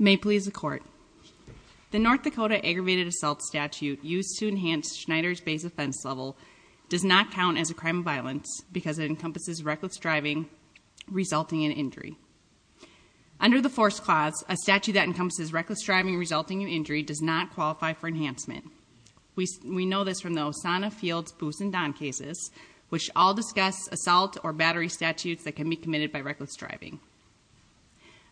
May please the court. The North Dakota Aggravated Assault Statute used to enhance Schneider's base offense level does not count as a crime of violence because it encompasses reckless driving resulting in injury. Under the force clause, a statute that encompasses reckless driving resulting in injury does not qualify for enhancement. We know this from the Osana Field's Boose and Don cases, which all discuss assault or battery statutes that can be committed by reckless driving.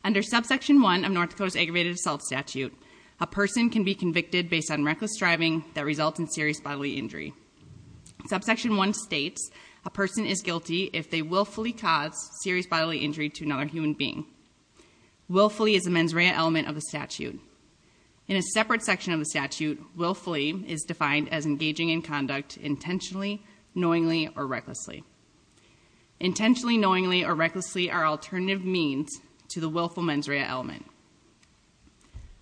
Under subsection 1 of North Dakota's Aggravated Assault Statute, a person can be convicted based on reckless driving that results in serious bodily injury. Subsection 1 states a person is guilty if they willfully cause serious bodily injury to another human being. Willfully is a mens rea element of the statute. In a separate section of the statute, willfully is defined as engaging in conduct intentionally, knowingly or recklessly. Intentionally, knowingly or recklessly are alternative means to the willful mens rea element.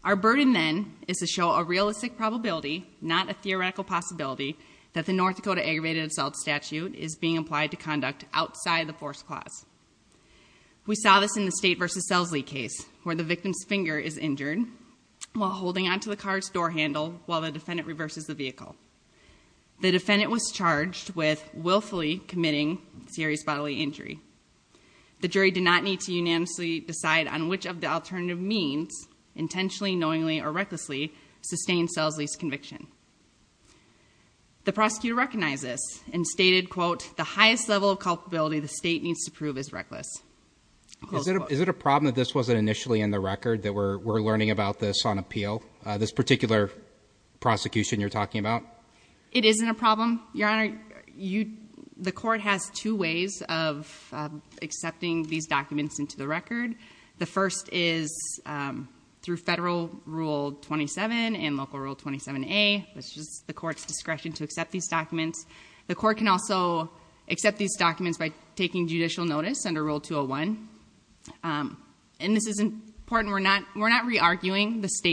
Our burden then is to show a realistic probability, not a theoretical possibility, that the North Dakota Aggravated Assault Statute is being applied to conduct outside the force clause. We saw this in the State v. Selzley case where the victim's finger is injured while holding onto the car's door handle while the defendant reverses the vehicle. The defendant was charged with willfully committing serious bodily injury. The jury did not need to unanimously decide on which of the alternative means, intentionally, knowingly or recklessly, sustained Selzley's conviction. The prosecutor recognized this and stated, quote, the highest level of culpability the motive is reckless. Is it a problem that this wasn't initially in the record that we're learning about this on appeal, this particular prosecution you're talking about? It isn't a problem, Your Honor. The court has two ways of accepting these documents into the record. The first is through federal Rule 27 and local Rule 27A, which is the court's discretion to accept these documents. The court can also accept these documents by taking judicial notice under Rule 201. And this is important. We're not re-arguing the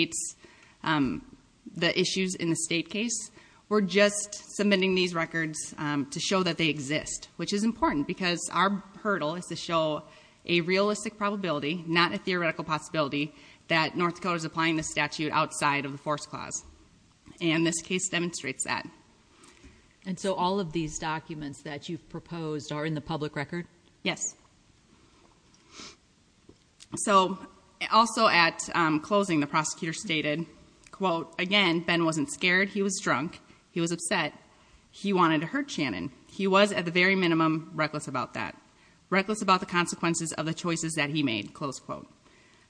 issues in the State case. We're just submitting these records to show that they exist, which is important because our hurdle is to show a realistic probability, not a theoretical possibility, that North Dakota is applying this statute outside of the force clause. And this case demonstrates that. And so all of these documents that you've proposed are in the public record? Yes. So, also at closing, the prosecutor stated, quote, again, Ben wasn't scared. He was drunk. He was upset. He wanted to hurt Shannon. He was, at the very minimum, reckless about that. Reckless about the consequences of the choices that he made, close quote.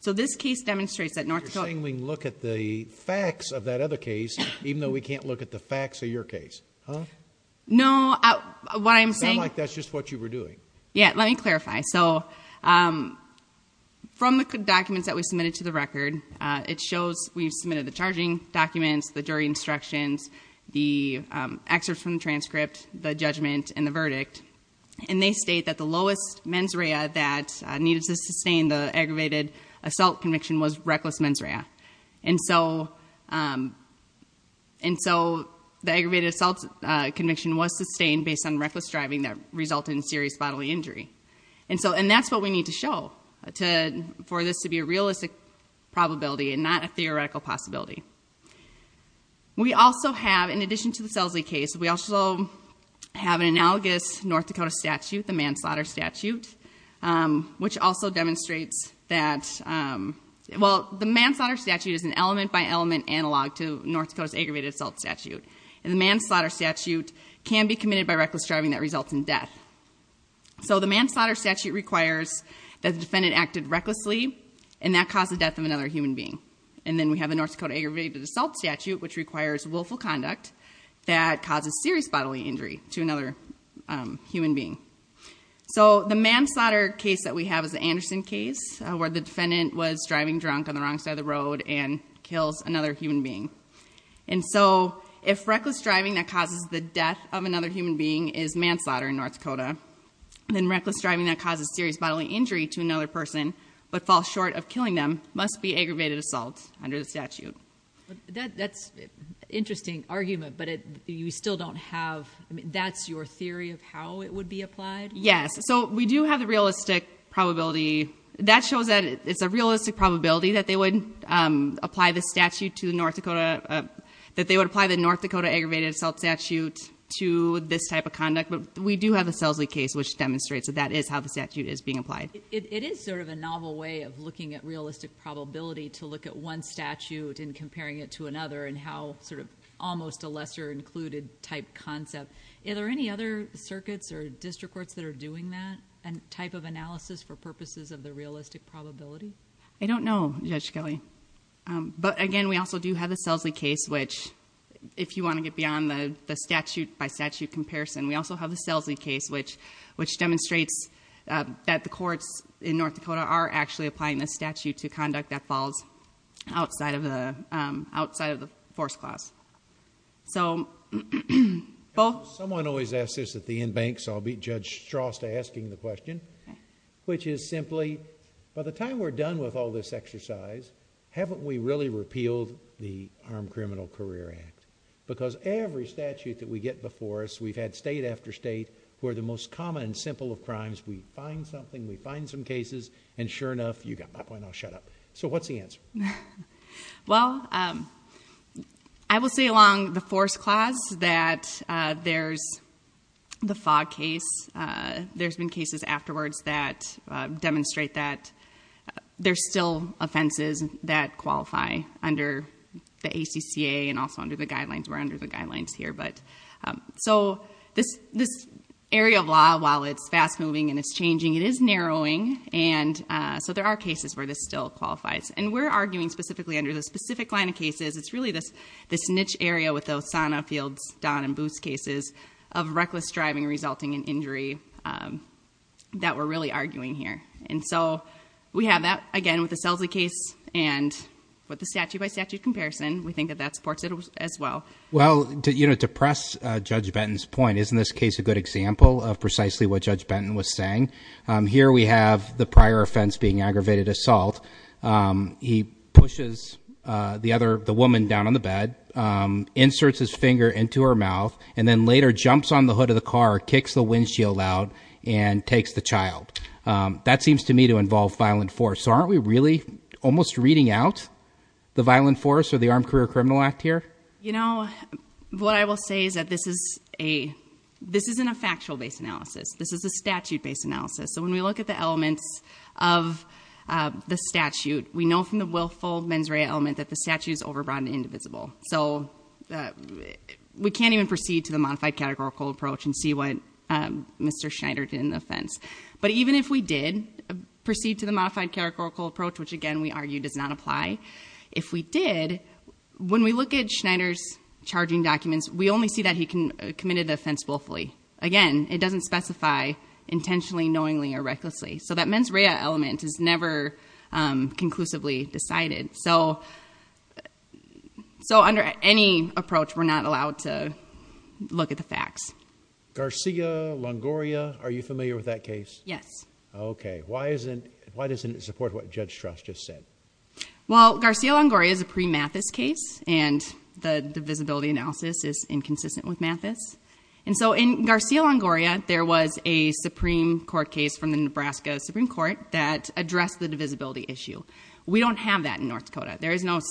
So this case demonstrates that North Dakota- You're saying we can look at the facts of that other case, even though we can't look at the facts of your case, huh? No. What I'm saying- Sound like that's just what you were doing. Yeah. Let me clarify. So, from the documents that we submitted to the record, it shows we've submitted the charging documents, the jury instructions, the excerpts from the transcript, the judgment, and the verdict. And they state that the lowest mens rea that needed to sustain the aggravated assault conviction was reckless mens rea. And so, the aggravated assault conviction was sustained based on reckless driving that resulted in serious bodily injury. And so, and that's what we need to show for this to be a realistic probability and not a theoretical possibility. We also have, in addition to the Selzley case, we also have an analogous North Dakota statute, the manslaughter statute, which also demonstrates that- Well, the manslaughter statute is an element-by-element analog to North Dakota's aggravated assault statute. And the manslaughter statute can be committed by reckless driving that results in death. So, the manslaughter statute requires that the defendant acted recklessly, and that caused the death of another human being. And then we have the North Dakota aggravated assault statute, which requires willful conduct that causes serious bodily injury to another human being. So, the manslaughter case that we have is the Anderson case, where the defendant was driving drunk on the wrong side of the road and kills another human being. And so, if reckless driving that causes the death of another human being is manslaughter in North Dakota, then reckless driving that causes serious bodily injury to another person but falls short of killing them must be aggravated assault under the statute. That's an interesting argument, but you still don't have- I mean, that's your theory of how it would be applied? Yes. So, we do have the realistic probability. That shows that it's a realistic probability that they would apply the statute to North Dakota- that they would apply the North Dakota aggravated assault statute to this type of conduct. But we do have the Selzley case, which demonstrates that that is how the statute is being applied. It is sort of a novel way of looking at realistic probability to look at one statute and comparing it to another, and how sort of almost a lesser included type concept. Are there any other circuits or district courts that are doing that type of analysis for purposes of the realistic probability? I don't know, Judge Kelly. But again, we also do have the Selzley case, which if you want to get beyond the statute by statute comparison, we also have the Selzley case, which demonstrates that the courts in North Dakota are actually applying the statute to conduct that falls outside of the force clause. Someone always asks this at the inbanks, so I'll beat Judge Strost to asking the question, which is simply, by the time we're done with all this exercise, haven't we really repealed the Armed Criminal Career Act? Because every statute that we get before us, we've had state after state, who are the most common and simple of crimes. We find something, we find some cases, and sure enough, you got my point, I'll shut up. So what's the answer? Well, I will say along the force clause that there's the Fogg case, there's been cases afterwards that demonstrate that there's still offenses that qualify under the ACCA and also under the guidelines. We're under the guidelines here. So this area of law, while it's fast moving and it's changing, it is narrowing, and so there are cases where this still qualifies. And we're arguing specifically under the specific line of cases, it's really this niche area with the Osana, Fields, Don, and Booth cases of reckless driving resulting in injury that we're really arguing here. And so we have that, again, with the Selzley case and with the statute by statute comparison, we think that that supports it as well. Well, to press Judge Benton's point, isn't this case a good example of precisely what Judge Benton was saying? Here we have the prior offense being aggravated assault. He pushes the woman down on the bed, inserts his finger into her mouth, and then later jumps on the hood of the car, kicks the windshield out, and takes the child. That seems to me to involve violent force. So aren't we really almost reading out the violent force or the Armed Career Criminal Act here? You know, what I will say is that this isn't a factual-based analysis. This is a statute-based analysis. So when we look at the elements of the statute, we know from the willful mens rea element that the statute is overbroad and indivisible. So we can't even proceed to the modified categorical approach and see what Mr. Schneider did in the offense. But even if we did proceed to the modified categorical approach, which again, we argue does not apply, if we did, when we look at Schneider's charging documents, we only see that he committed the offense willfully. Again, it doesn't specify intentionally, knowingly, or recklessly. So that mens rea element is never conclusively decided. So under any approach, we're not allowed to look at the facts. Garcia, Longoria, are you familiar with that case? Yes. Okay. Why doesn't it support what Judge Strass just said? Well, Garcia-Longoria is a pre-Mathis case, and the divisibility analysis is inconsistent with Mathis. And so in Garcia-Longoria, there was a Supreme Court case from the Nebraska Supreme Court that addressed the divisibility issue. We don't have that in North Dakota. There is no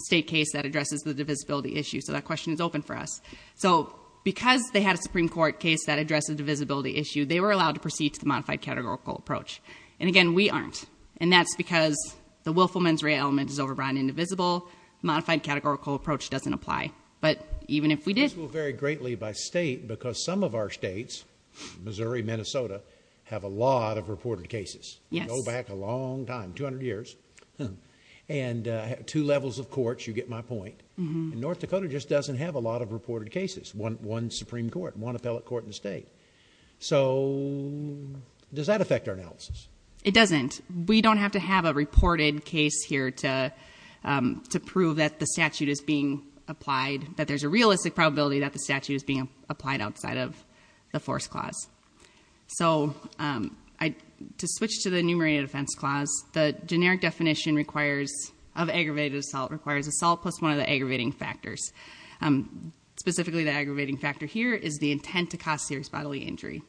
state case that addresses the divisibility issue, so that question is open for us. So because they had a Supreme Court case that addressed the divisibility issue, they were allowed to proceed to the modified categorical approach. And again, we aren't. And that's because the willful mens rea element is overbrought and indivisible. Modified categorical approach doesn't apply. But even if we did- This will vary greatly by state, because some of our states, Missouri, Minnesota, have a lot of reported cases. Yes. Go back a long time, 200 years. And two levels of courts, you get my point. And North Dakota just doesn't have a lot of reported cases. One Supreme Court, one appellate court in the state. So does that affect our analysis? It doesn't. We don't have to have a reported case here to prove that the statute is being applied, that there's a realistic probability that the statute is being applied outside of the force clause. So to switch to the enumerated offense clause, the generic definition of aggravated assault requires assault plus one of the aggravating factors. Specifically the aggravating factor here is the intent to cause serious bodily injury.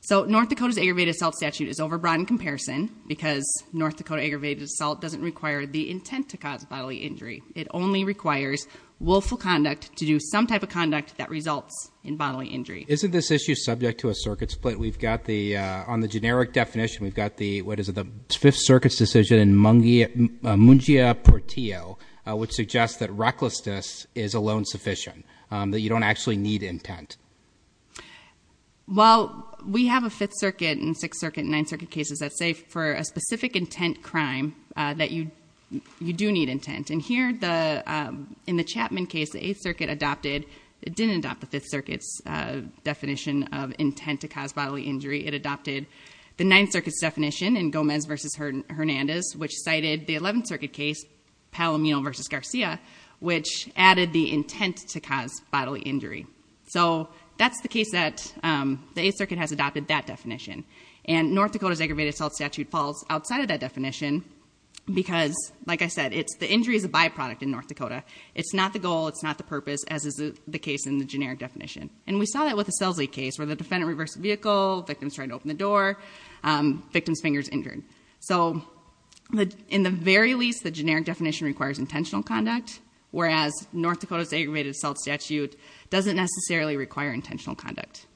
So North Dakota's aggravated assault statute is overbrought in comparison, because North Dakota aggravated assault doesn't require the intent to cause bodily injury. It only requires willful conduct to do some type of conduct that results in bodily injury. Isn't this issue subject to a circuit split? We've got the, on the generic definition, we've got the, what is it, the Fifth Circuit's decision in Mungia Portillo, which suggests that recklessness is alone sufficient, that you don't actually need intent. Well, we have a Fifth Circuit and Sixth Circuit and Ninth Circuit cases that say for a specific intent crime, that you do need intent. And here, in the Chapman case, the Eighth Circuit adopted, it didn't adopt the Fifth Circuit's definition of intent to cause bodily injury. It adopted the Ninth Circuit's definition in Gomez versus Hernandez, which cited the Eleventh Circuit case, Palomino versus Garcia, which added the intent to cause bodily injury. So that's the case that the Eighth Circuit has adopted that definition. And North Dakota's aggravated assault statute falls outside of that definition, because, like I said, the injury is a byproduct in North Dakota. It's not the goal, it's not the purpose, as is the case in the generic definition. And we saw that with the Selsey case, where the defendant reversed the vehicle, the victim's trying to open the door, victim's finger's injured. So, in the very least, the generic definition requires intentional conduct, whereas North Dakota's aggravated assault statute doesn't necessarily require intentional conduct.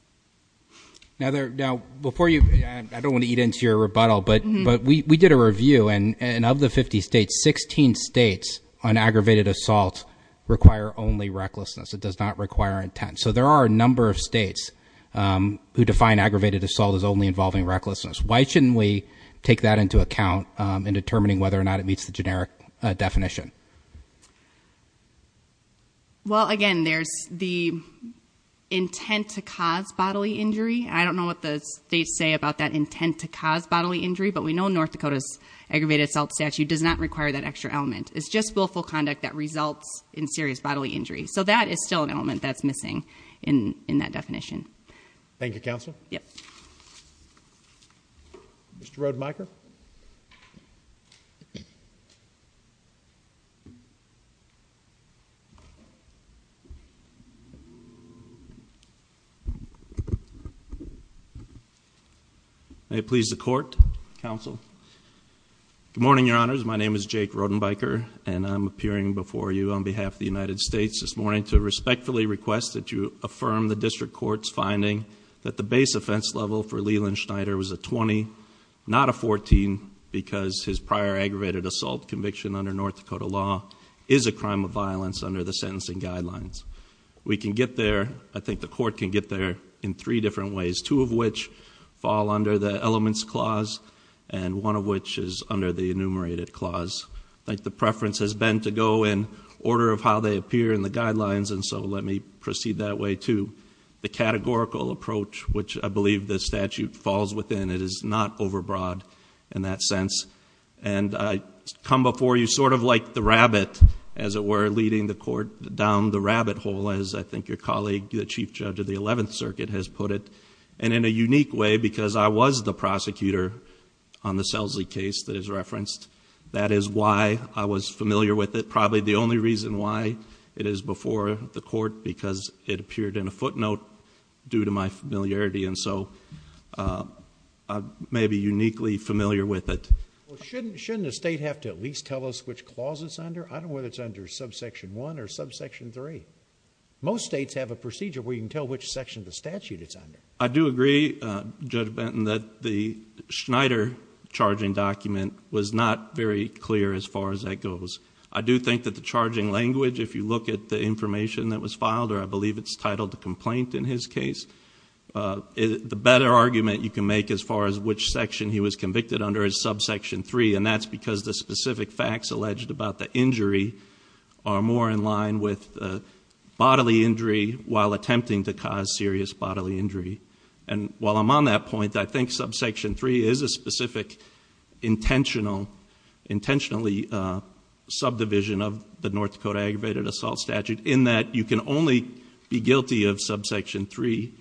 Now, before you, I don't want to eat into your rebuttal, but we did a review, and of the 50 states, 16 states on aggravated assault require only recklessness. It does not require intent. So there are a number of states who define aggravated assault as only involving recklessness. Why shouldn't we take that into account in determining whether or not it meets the generic definition? Well, again, there's the intent to cause bodily injury. I don't know what the states say about that intent to cause bodily injury, but we know North Dakota's aggravated assault statute does not require that extra element. It's just willful conduct that results in serious bodily injury. So that is still an element that's missing in that definition. Thank you, Counsel. Yep. Mr. Rodenbiker. May it please the court, counsel. Good morning, your honors. My name is Jake Rodenbiker, and I'm appearing before you on behalf of the United States this morning to respectfully request that you affirm the district court's finding that the base offense level for Leland Schneider was a 20, not a 14, because his prior aggravated assault conviction under North Dakota law is a crime of violence under the sentencing guidelines. We can get there, I think the court can get there, in three different ways. Two of which fall under the elements clause, and one of which is under the enumerated clause. I think the preference has been to go in order of how they appear in the guidelines, and so let me proceed that way too. The categorical approach, which I believe the statute falls within, it is not over broad in that sense. And I come before you sort of like the rabbit, as it were, leading the court down the rabbit hole, as I think your colleague, the Chief Judge of the 11th Circuit has put it. And in a unique way, because I was the prosecutor on the Selsley case that is referenced, that is why I was familiar with it, probably the only reason why it is before the court, because it appeared in a footnote due to my familiarity, and so I may be uniquely familiar with it. Shouldn't the state have to at least tell us which clause it's under? I don't know whether it's under subsection one or subsection three. Most states have a procedure where you can tell which section of the statute it's under. I do agree, Judge Benton, that the Schneider charging document was not very clear as far as that goes. I do think that the charging language, if you look at the information that was filed, or I believe it's titled the complaint in his case, the better argument you can make as far as which section he was convicted under is subsection three. And that's because the specific facts alleged about the injury are more in line with bodily injury while attempting to cause serious bodily injury. And while I'm on that point, I think subsection three is a specific intentionally subdivision of the North Dakota aggravated assault statute in that you can only be guilty of subsection three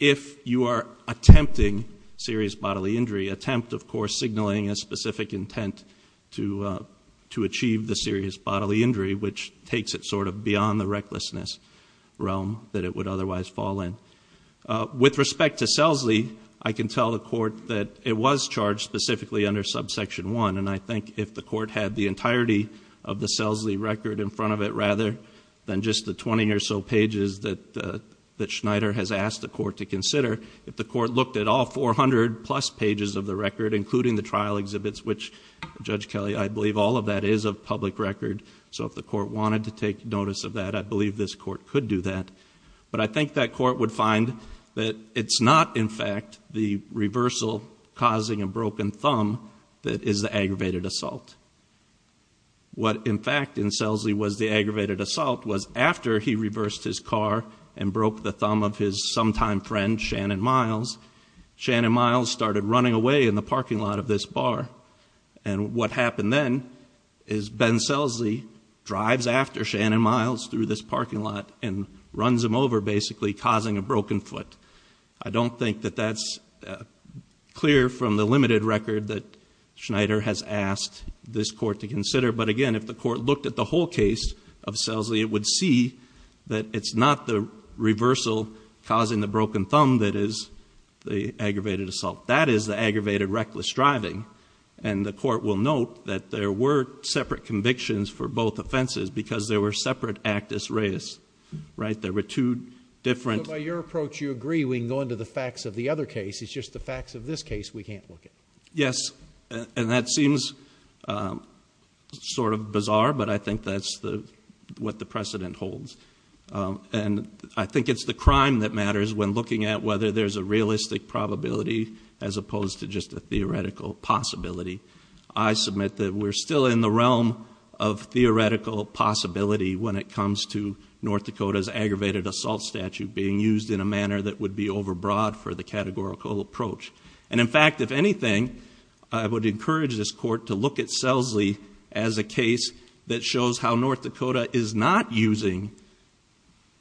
if you are attempting serious bodily injury, attempt, of course, signaling a specific intent to achieve the serious bodily injury, which takes it sort of beyond the recklessness realm that it would otherwise fall in. With respect to Selsley, I can tell the court that it was charged specifically under subsection one. And I think if the court had the entirety of the Selsley record in front of it, rather than just the 20 or so pages that Schneider has asked the court to consider. If the court looked at all 400 plus pages of the record, including the trial exhibits, which, Judge Kelly, I believe all of that is of public record. So if the court wanted to take notice of that, I believe this court could do that. But I think that court would find that it's not, in fact, the reversal causing a broken thumb that is the aggravated assault. What, in fact, in Selsley was the aggravated assault was after he reversed his car and broke the thumb of his sometime friend, Shannon Miles, Shannon Miles started running away in the parking lot of this bar. And what happened then is Ben Selsley drives after Shannon Miles through this parking lot and runs him over, basically, causing a broken foot. I don't think that that's clear from the limited record that Schneider has asked this court to consider. But again, if the court looked at the whole case of Selsley, it would see that it's not the reversal causing the broken thumb that is the aggravated assault. That is the aggravated reckless driving. And the court will note that there were separate convictions for both offenses because there were separate actus reus, right? There were two different- I agree, we can go into the facts of the other case, it's just the facts of this case we can't look at. Yes, and that seems sort of bizarre, but I think that's what the precedent holds. And I think it's the crime that matters when looking at whether there's a realistic probability as opposed to just a theoretical possibility. I submit that we're still in the realm of theoretical possibility when it comes to what would be over broad for the categorical approach. And in fact, if anything, I would encourage this court to look at Selsley as a case that shows how North Dakota is not using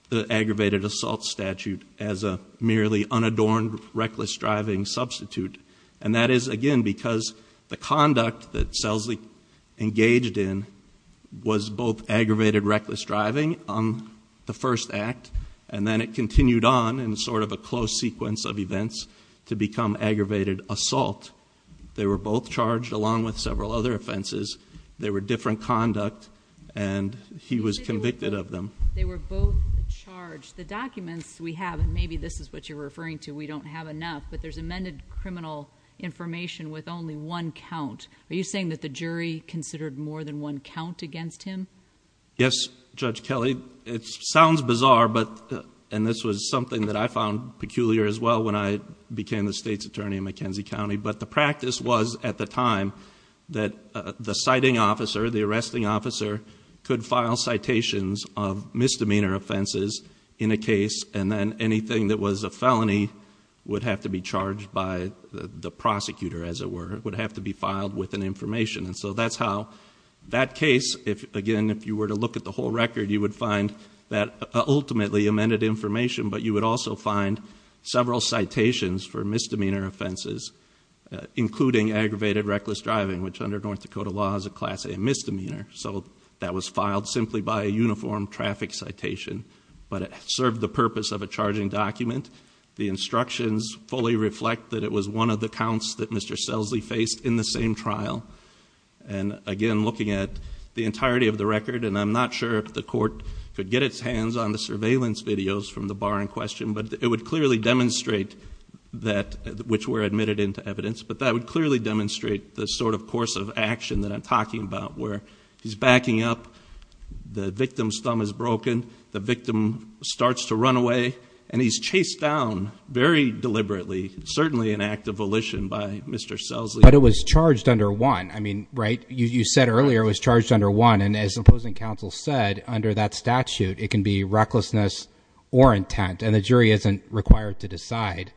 the aggravated assault statute as a merely unadorned reckless driving substitute. And that is, again, because the conduct that Selsley engaged in was both aggravated reckless driving on the first act, and then it continued on in sort of a close sequence of events to become aggravated assault. They were both charged along with several other offenses. They were different conduct, and he was convicted of them. They were both charged. The documents we have, and maybe this is what you're referring to, we don't have enough, but there's amended criminal information with only one count. Are you saying that the jury considered more than one count against him? Yes, Judge Kelly. It sounds bizarre, and this was something that I found peculiar as well when I became the state's attorney in McKenzie County. But the practice was, at the time, that the citing officer, the arresting officer, could file citations of misdemeanor offenses in a case. And then anything that was a felony would have to be charged by the prosecutor, as it were. It would have to be filed with an information. And so that's how that case, again, if you were to look at the whole record, you would find that ultimately amended information. But you would also find several citations for misdemeanor offenses, including aggravated reckless driving, which under North Dakota law is a class A misdemeanor. So that was filed simply by a uniform traffic citation, but it served the purpose of a charging document. The instructions fully reflect that it was one of the counts that Mr. Selzley faced in the same trial. And again, looking at the entirety of the record, and I'm not sure if the court could get its hands on the surveillance videos from the bar in question. But it would clearly demonstrate that, which were admitted into evidence. But that would clearly demonstrate the sort of course of action that I'm talking about, where he's backing up. The victim's thumb is broken, the victim starts to run away. And he's chased down very deliberately, certainly an act of volition by Mr. Selzley. But it was charged under one, I mean, right? You said earlier it was charged under one. And as opposing counsel said, under that statute, it can be recklessness or intent. And the jury isn't required to decide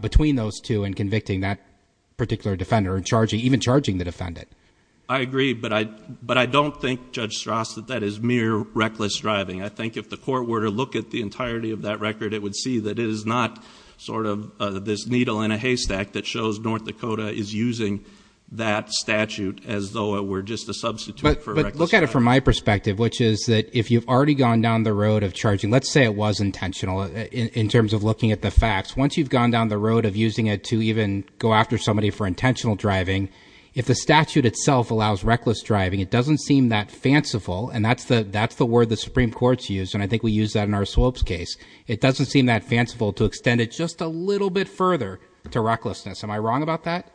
between those two in convicting that particular defender and even charging the defendant. I agree, but I don't think, Judge Strauss, that that is mere reckless driving. I think if the court were to look at the entirety of that record, it would see that it is not sort of this needle in a haystack that shows North Dakota is using that statute as though it were just a substitute for reckless driving. But look at it from my perspective, which is that if you've already gone down the road of charging, let's say it was intentional in terms of looking at the facts, once you've gone down the road of using it to even go after somebody for intentional driving. If the statute itself allows reckless driving, it doesn't seem that fanciful, and that's the word the Supreme Court's used, and I think we use that in our Swoap's case. It doesn't seem that fanciful to extend it just a little bit further to recklessness. Am I wrong about that?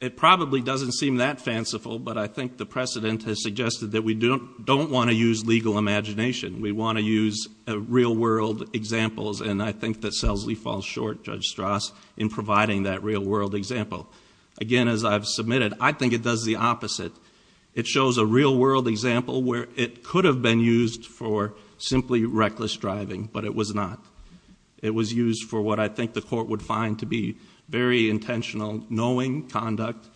It probably doesn't seem that fanciful, but I think the precedent has suggested that we don't want to use legal imagination. We want to use real world examples, and I think that Selzley falls short, Judge Strauss, in providing that real world example. Again, as I've submitted, I think it does the opposite. It shows a real world example where it could have been used for simply reckless driving, but it was not. It was used for what I think the court would find to be very intentional knowing conduct.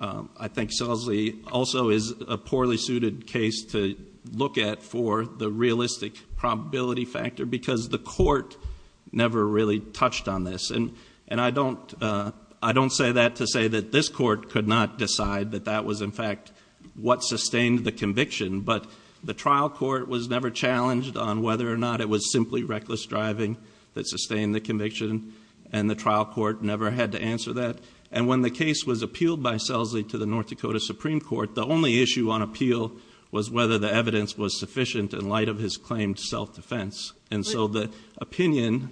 I think Selzley also is a poorly suited case to look at for the realistic probability factor because the court never really touched on this. And I don't say that to say that this court could not decide that that was in fact what sustained the conviction. But the trial court was never challenged on whether or not it was simply reckless driving that sustained the conviction. And the trial court never had to answer that. And when the case was appealed by Selzley to the North Dakota Supreme Court, the only issue on appeal was whether the evidence was sufficient in light of his claimed self-defense. And so the opinion-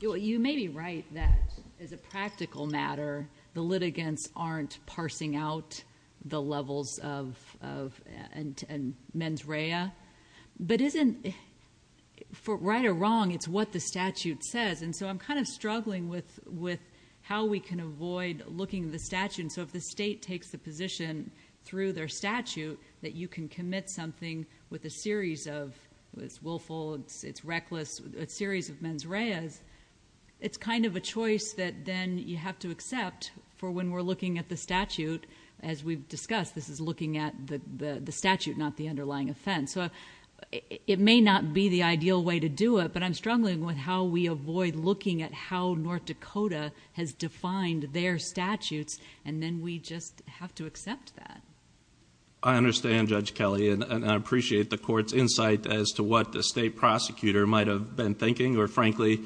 You may be right that as a practical matter, the litigants aren't parsing out the levels of mens rea. But isn't, for right or wrong, it's what the statute says. And so I'm kind of struggling with how we can avoid looking at the statute. And so if the state takes the position through their statute that you can commit something with a series of, it's willful, it's reckless, a series of mens reas. It's kind of a choice that then you have to accept for when we're looking at the statute. As we've discussed, this is looking at the statute, not the underlying offense. So it may not be the ideal way to do it, but I'm struggling with how we avoid looking at how North Dakota has defined their statutes, and then we just have to accept that. I understand, Judge Kelly, and I appreciate the court's insight as to what the state prosecutor might have been thinking. Or frankly,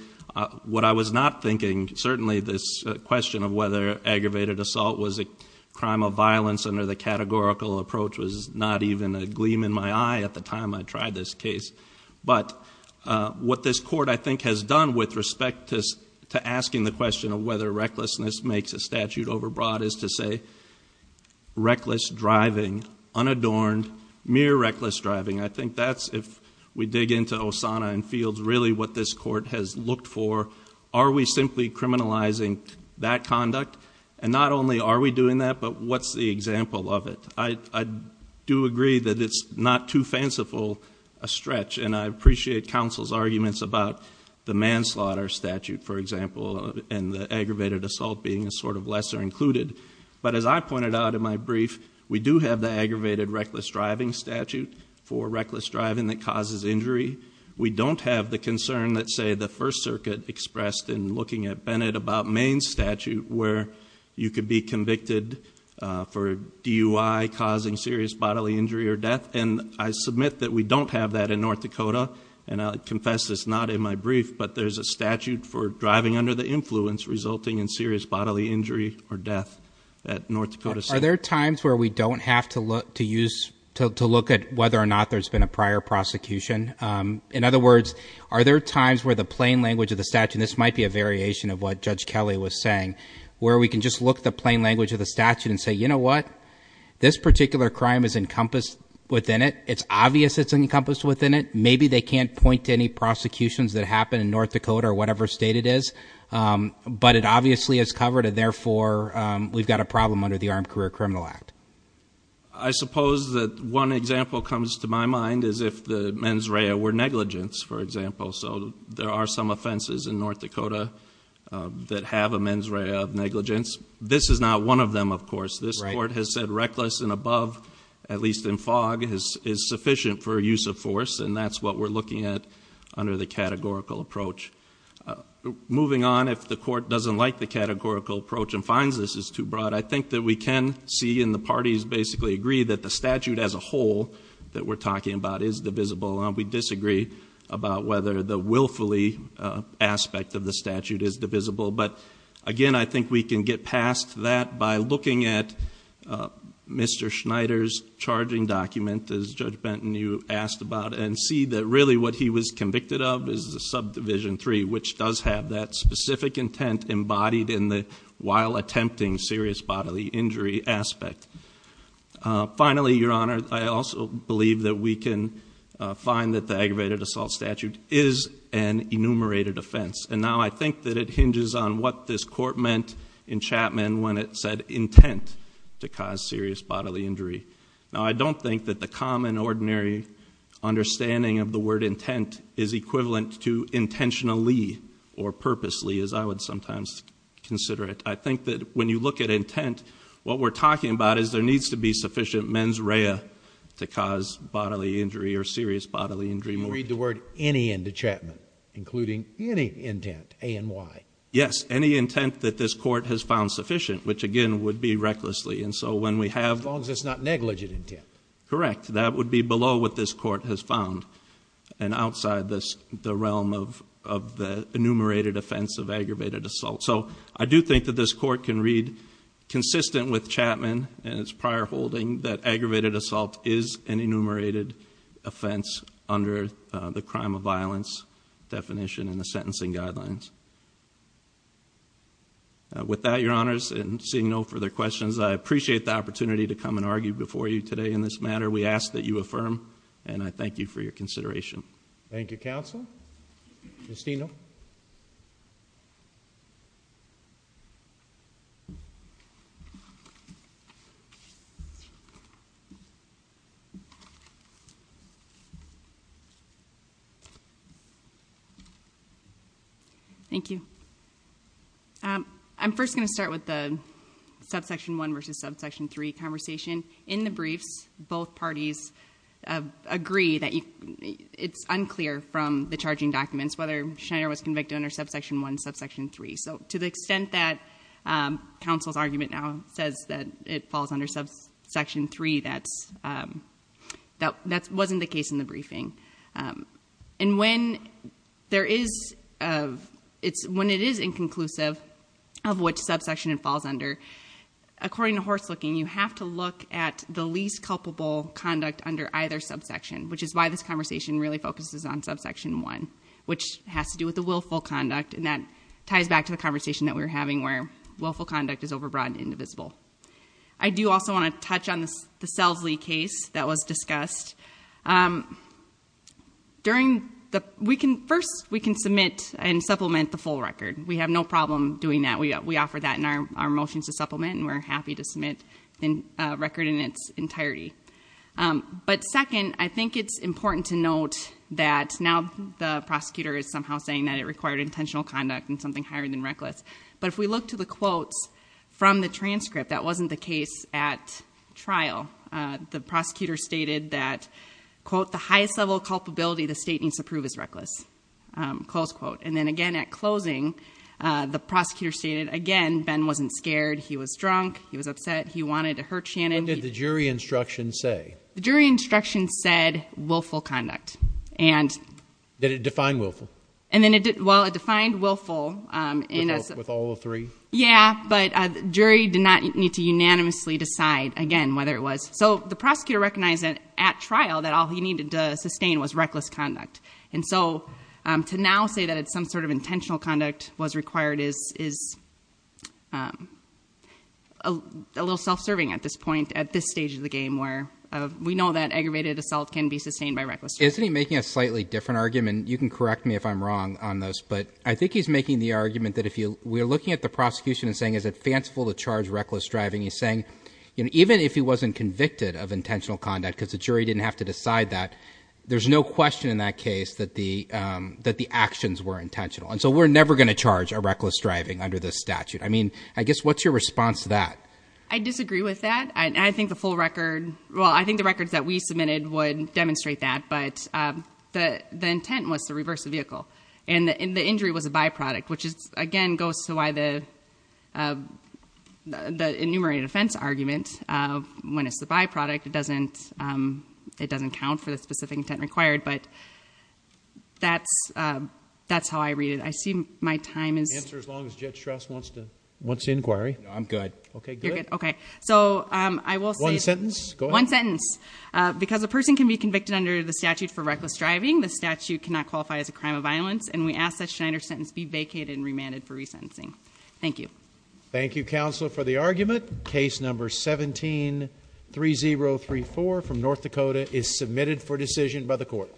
what I was not thinking, certainly this question of whether aggravated assault was a crime of violence under the categorical approach was not even a gleam in my eye at the time I tried this case. But what this court, I think, has done with respect to asking the question of whether recklessness makes a statute overbroad, is to say reckless driving, unadorned, mere reckless driving. I think that's, if we dig into Osana and Fields, really what this court has looked for. Are we simply criminalizing that conduct? And not only are we doing that, but what's the example of it? I do agree that it's not too fanciful a stretch, and I appreciate counsel's arguments about the manslaughter statute, for example. And the aggravated assault being a sort of lesser included. But as I pointed out in my brief, we do have the aggravated reckless driving statute for reckless driving that causes injury. We don't have the concern that, say, the First Circuit expressed in looking at Bennett about Maine's statute, where you could be convicted for DUI, causing serious bodily injury or death. And I submit that we don't have that in North Dakota. And I'll confess this not in my brief, but there's a statute for driving under the influence resulting in serious bodily injury or death at North Dakota State. Are there times where we don't have to look at whether or not there's been a prior prosecution? In other words, are there times where the plain language of the statute, and this might be a variation of what Judge Kelly was saying, where we can just look at the plain language of the statute and say, you know what? This particular crime is encompassed within it. It's obvious it's encompassed within it. Maybe they can't point to any prosecutions that happen in North Dakota or whatever state it is, but it obviously is covered and therefore we've got a problem under the Armed Career Criminal Act. I suppose that one example comes to my mind is if the mens rea were negligence, for example. So there are some offenses in North Dakota that have a mens rea of negligence. This court has said reckless and above, at least in fog, is sufficient for use of force and that's what we're looking at under the categorical approach. Moving on, if the court doesn't like the categorical approach and finds this is too broad, I think that we can see and the parties basically agree that the statute as a whole that we're talking about is divisible. And we disagree about whether the willfully aspect of the statute is divisible. But again, I think we can get past that by looking at Mr. Schneider's charging document, as Judge Benton, you asked about, and see that really what he was convicted of is the subdivision three, which does have that specific intent embodied in the while attempting serious bodily injury aspect. Finally, your honor, I also believe that we can find that the aggravated assault statute is an enumerated offense. And now I think that it hinges on what this court meant in Chapman when it said intent to cause serious bodily injury. Now I don't think that the common ordinary understanding of the word intent is equivalent to intentionally or purposely as I would sometimes consider it. I think that when you look at intent, what we're talking about is there needs to be sufficient mens rea to cause bodily injury or serious bodily injury. You can read the word any into Chapman, including any intent, A and Y. Yes, any intent that this court has found sufficient, which again would be recklessly. And so when we have- As long as it's not negligent intent. Correct, that would be below what this court has found and outside the realm of the enumerated offense of aggravated assault. So I do think that this court can read consistent with Chapman and that aggravated assault is an enumerated offense under the crime of violence definition and the sentencing guidelines. With that, your honors, and seeing no further questions, I appreciate the opportunity to come and argue before you today in this matter. We ask that you affirm, and I thank you for your consideration. Thank you, counsel. Justino. Thank you. I'm first going to start with the subsection one versus subsection three conversation. In the briefs, both parties agree that it's unclear from the charging documents whether Schneider was convicted under subsection one, subsection three. So to the extent that counsel's argument now says that it falls under subsection three, that wasn't the case in the briefing. And when it is inconclusive of what subsection it falls under, according to horse looking, you have to look at the least culpable conduct under either subsection, which is why this conversation really focuses on subsection one, which has to do with the willful conduct. And that ties back to the conversation that we were having where willful conduct is over broad and indivisible. I do also want to touch on the Selves-Lee case that was discussed. During the, first, we can submit and supplement the full record. We have no problem doing that. We offer that in our motions to supplement, and we're happy to submit a record in its entirety. But second, I think it's important to note that now the prosecutor is somehow saying that it required intentional conduct and something higher than reckless. But if we look to the quotes from the transcript, that wasn't the case at trial. The prosecutor stated that, quote, the highest level of culpability the state needs to prove is reckless, close quote. And then again, at closing, the prosecutor stated, again, Ben wasn't scared, he was drunk, he was upset, he wanted to hurt Shannon. What did the jury instruction say? The jury instruction said willful conduct. And- Did it define willful? And then it did, well, it defined willful in a- With all three? Yeah, but jury did not need to unanimously decide, again, whether it was. So the prosecutor recognized that at trial, that all he needed to sustain was reckless conduct. And so to now say that it's some sort of intentional conduct was required is a little self-serving at this point, at this stage of the game, where we know that aggravated assault can be sustained by reckless driving. Isn't he making a slightly different argument? You can correct me if I'm wrong on this, but I think he's making the argument that if you, we're looking at the prosecution and saying is it fanciful to charge reckless driving? He's saying, even if he wasn't convicted of intentional conduct, because the jury didn't have to decide that, there's no question in that case that the actions were intentional. And so we're never going to charge a reckless driving under this statute. I mean, I guess, what's your response to that? I disagree with that. I think the full record, well, I think the records that we submitted would demonstrate that, but the intent was to reverse the vehicle. And the injury was a byproduct, which is, again, goes to why the enumerated offense argument, when it's the byproduct, it doesn't count for the specific intent required. But that's how I read it. I see my time is- Answer as long as Judge Strauss wants to inquire. No, I'm good. Okay, good. Okay, so I will say- One sentence, go ahead. One sentence, because a person can be convicted under the statute for reckless driving. The statute cannot qualify as a crime of violence, and we ask that Schneider's sentence be vacated and remanded for resentencing. Thank you. Thank you, counsel, for the argument. Case number 17-3034 from North Dakota is submitted for decision by the court.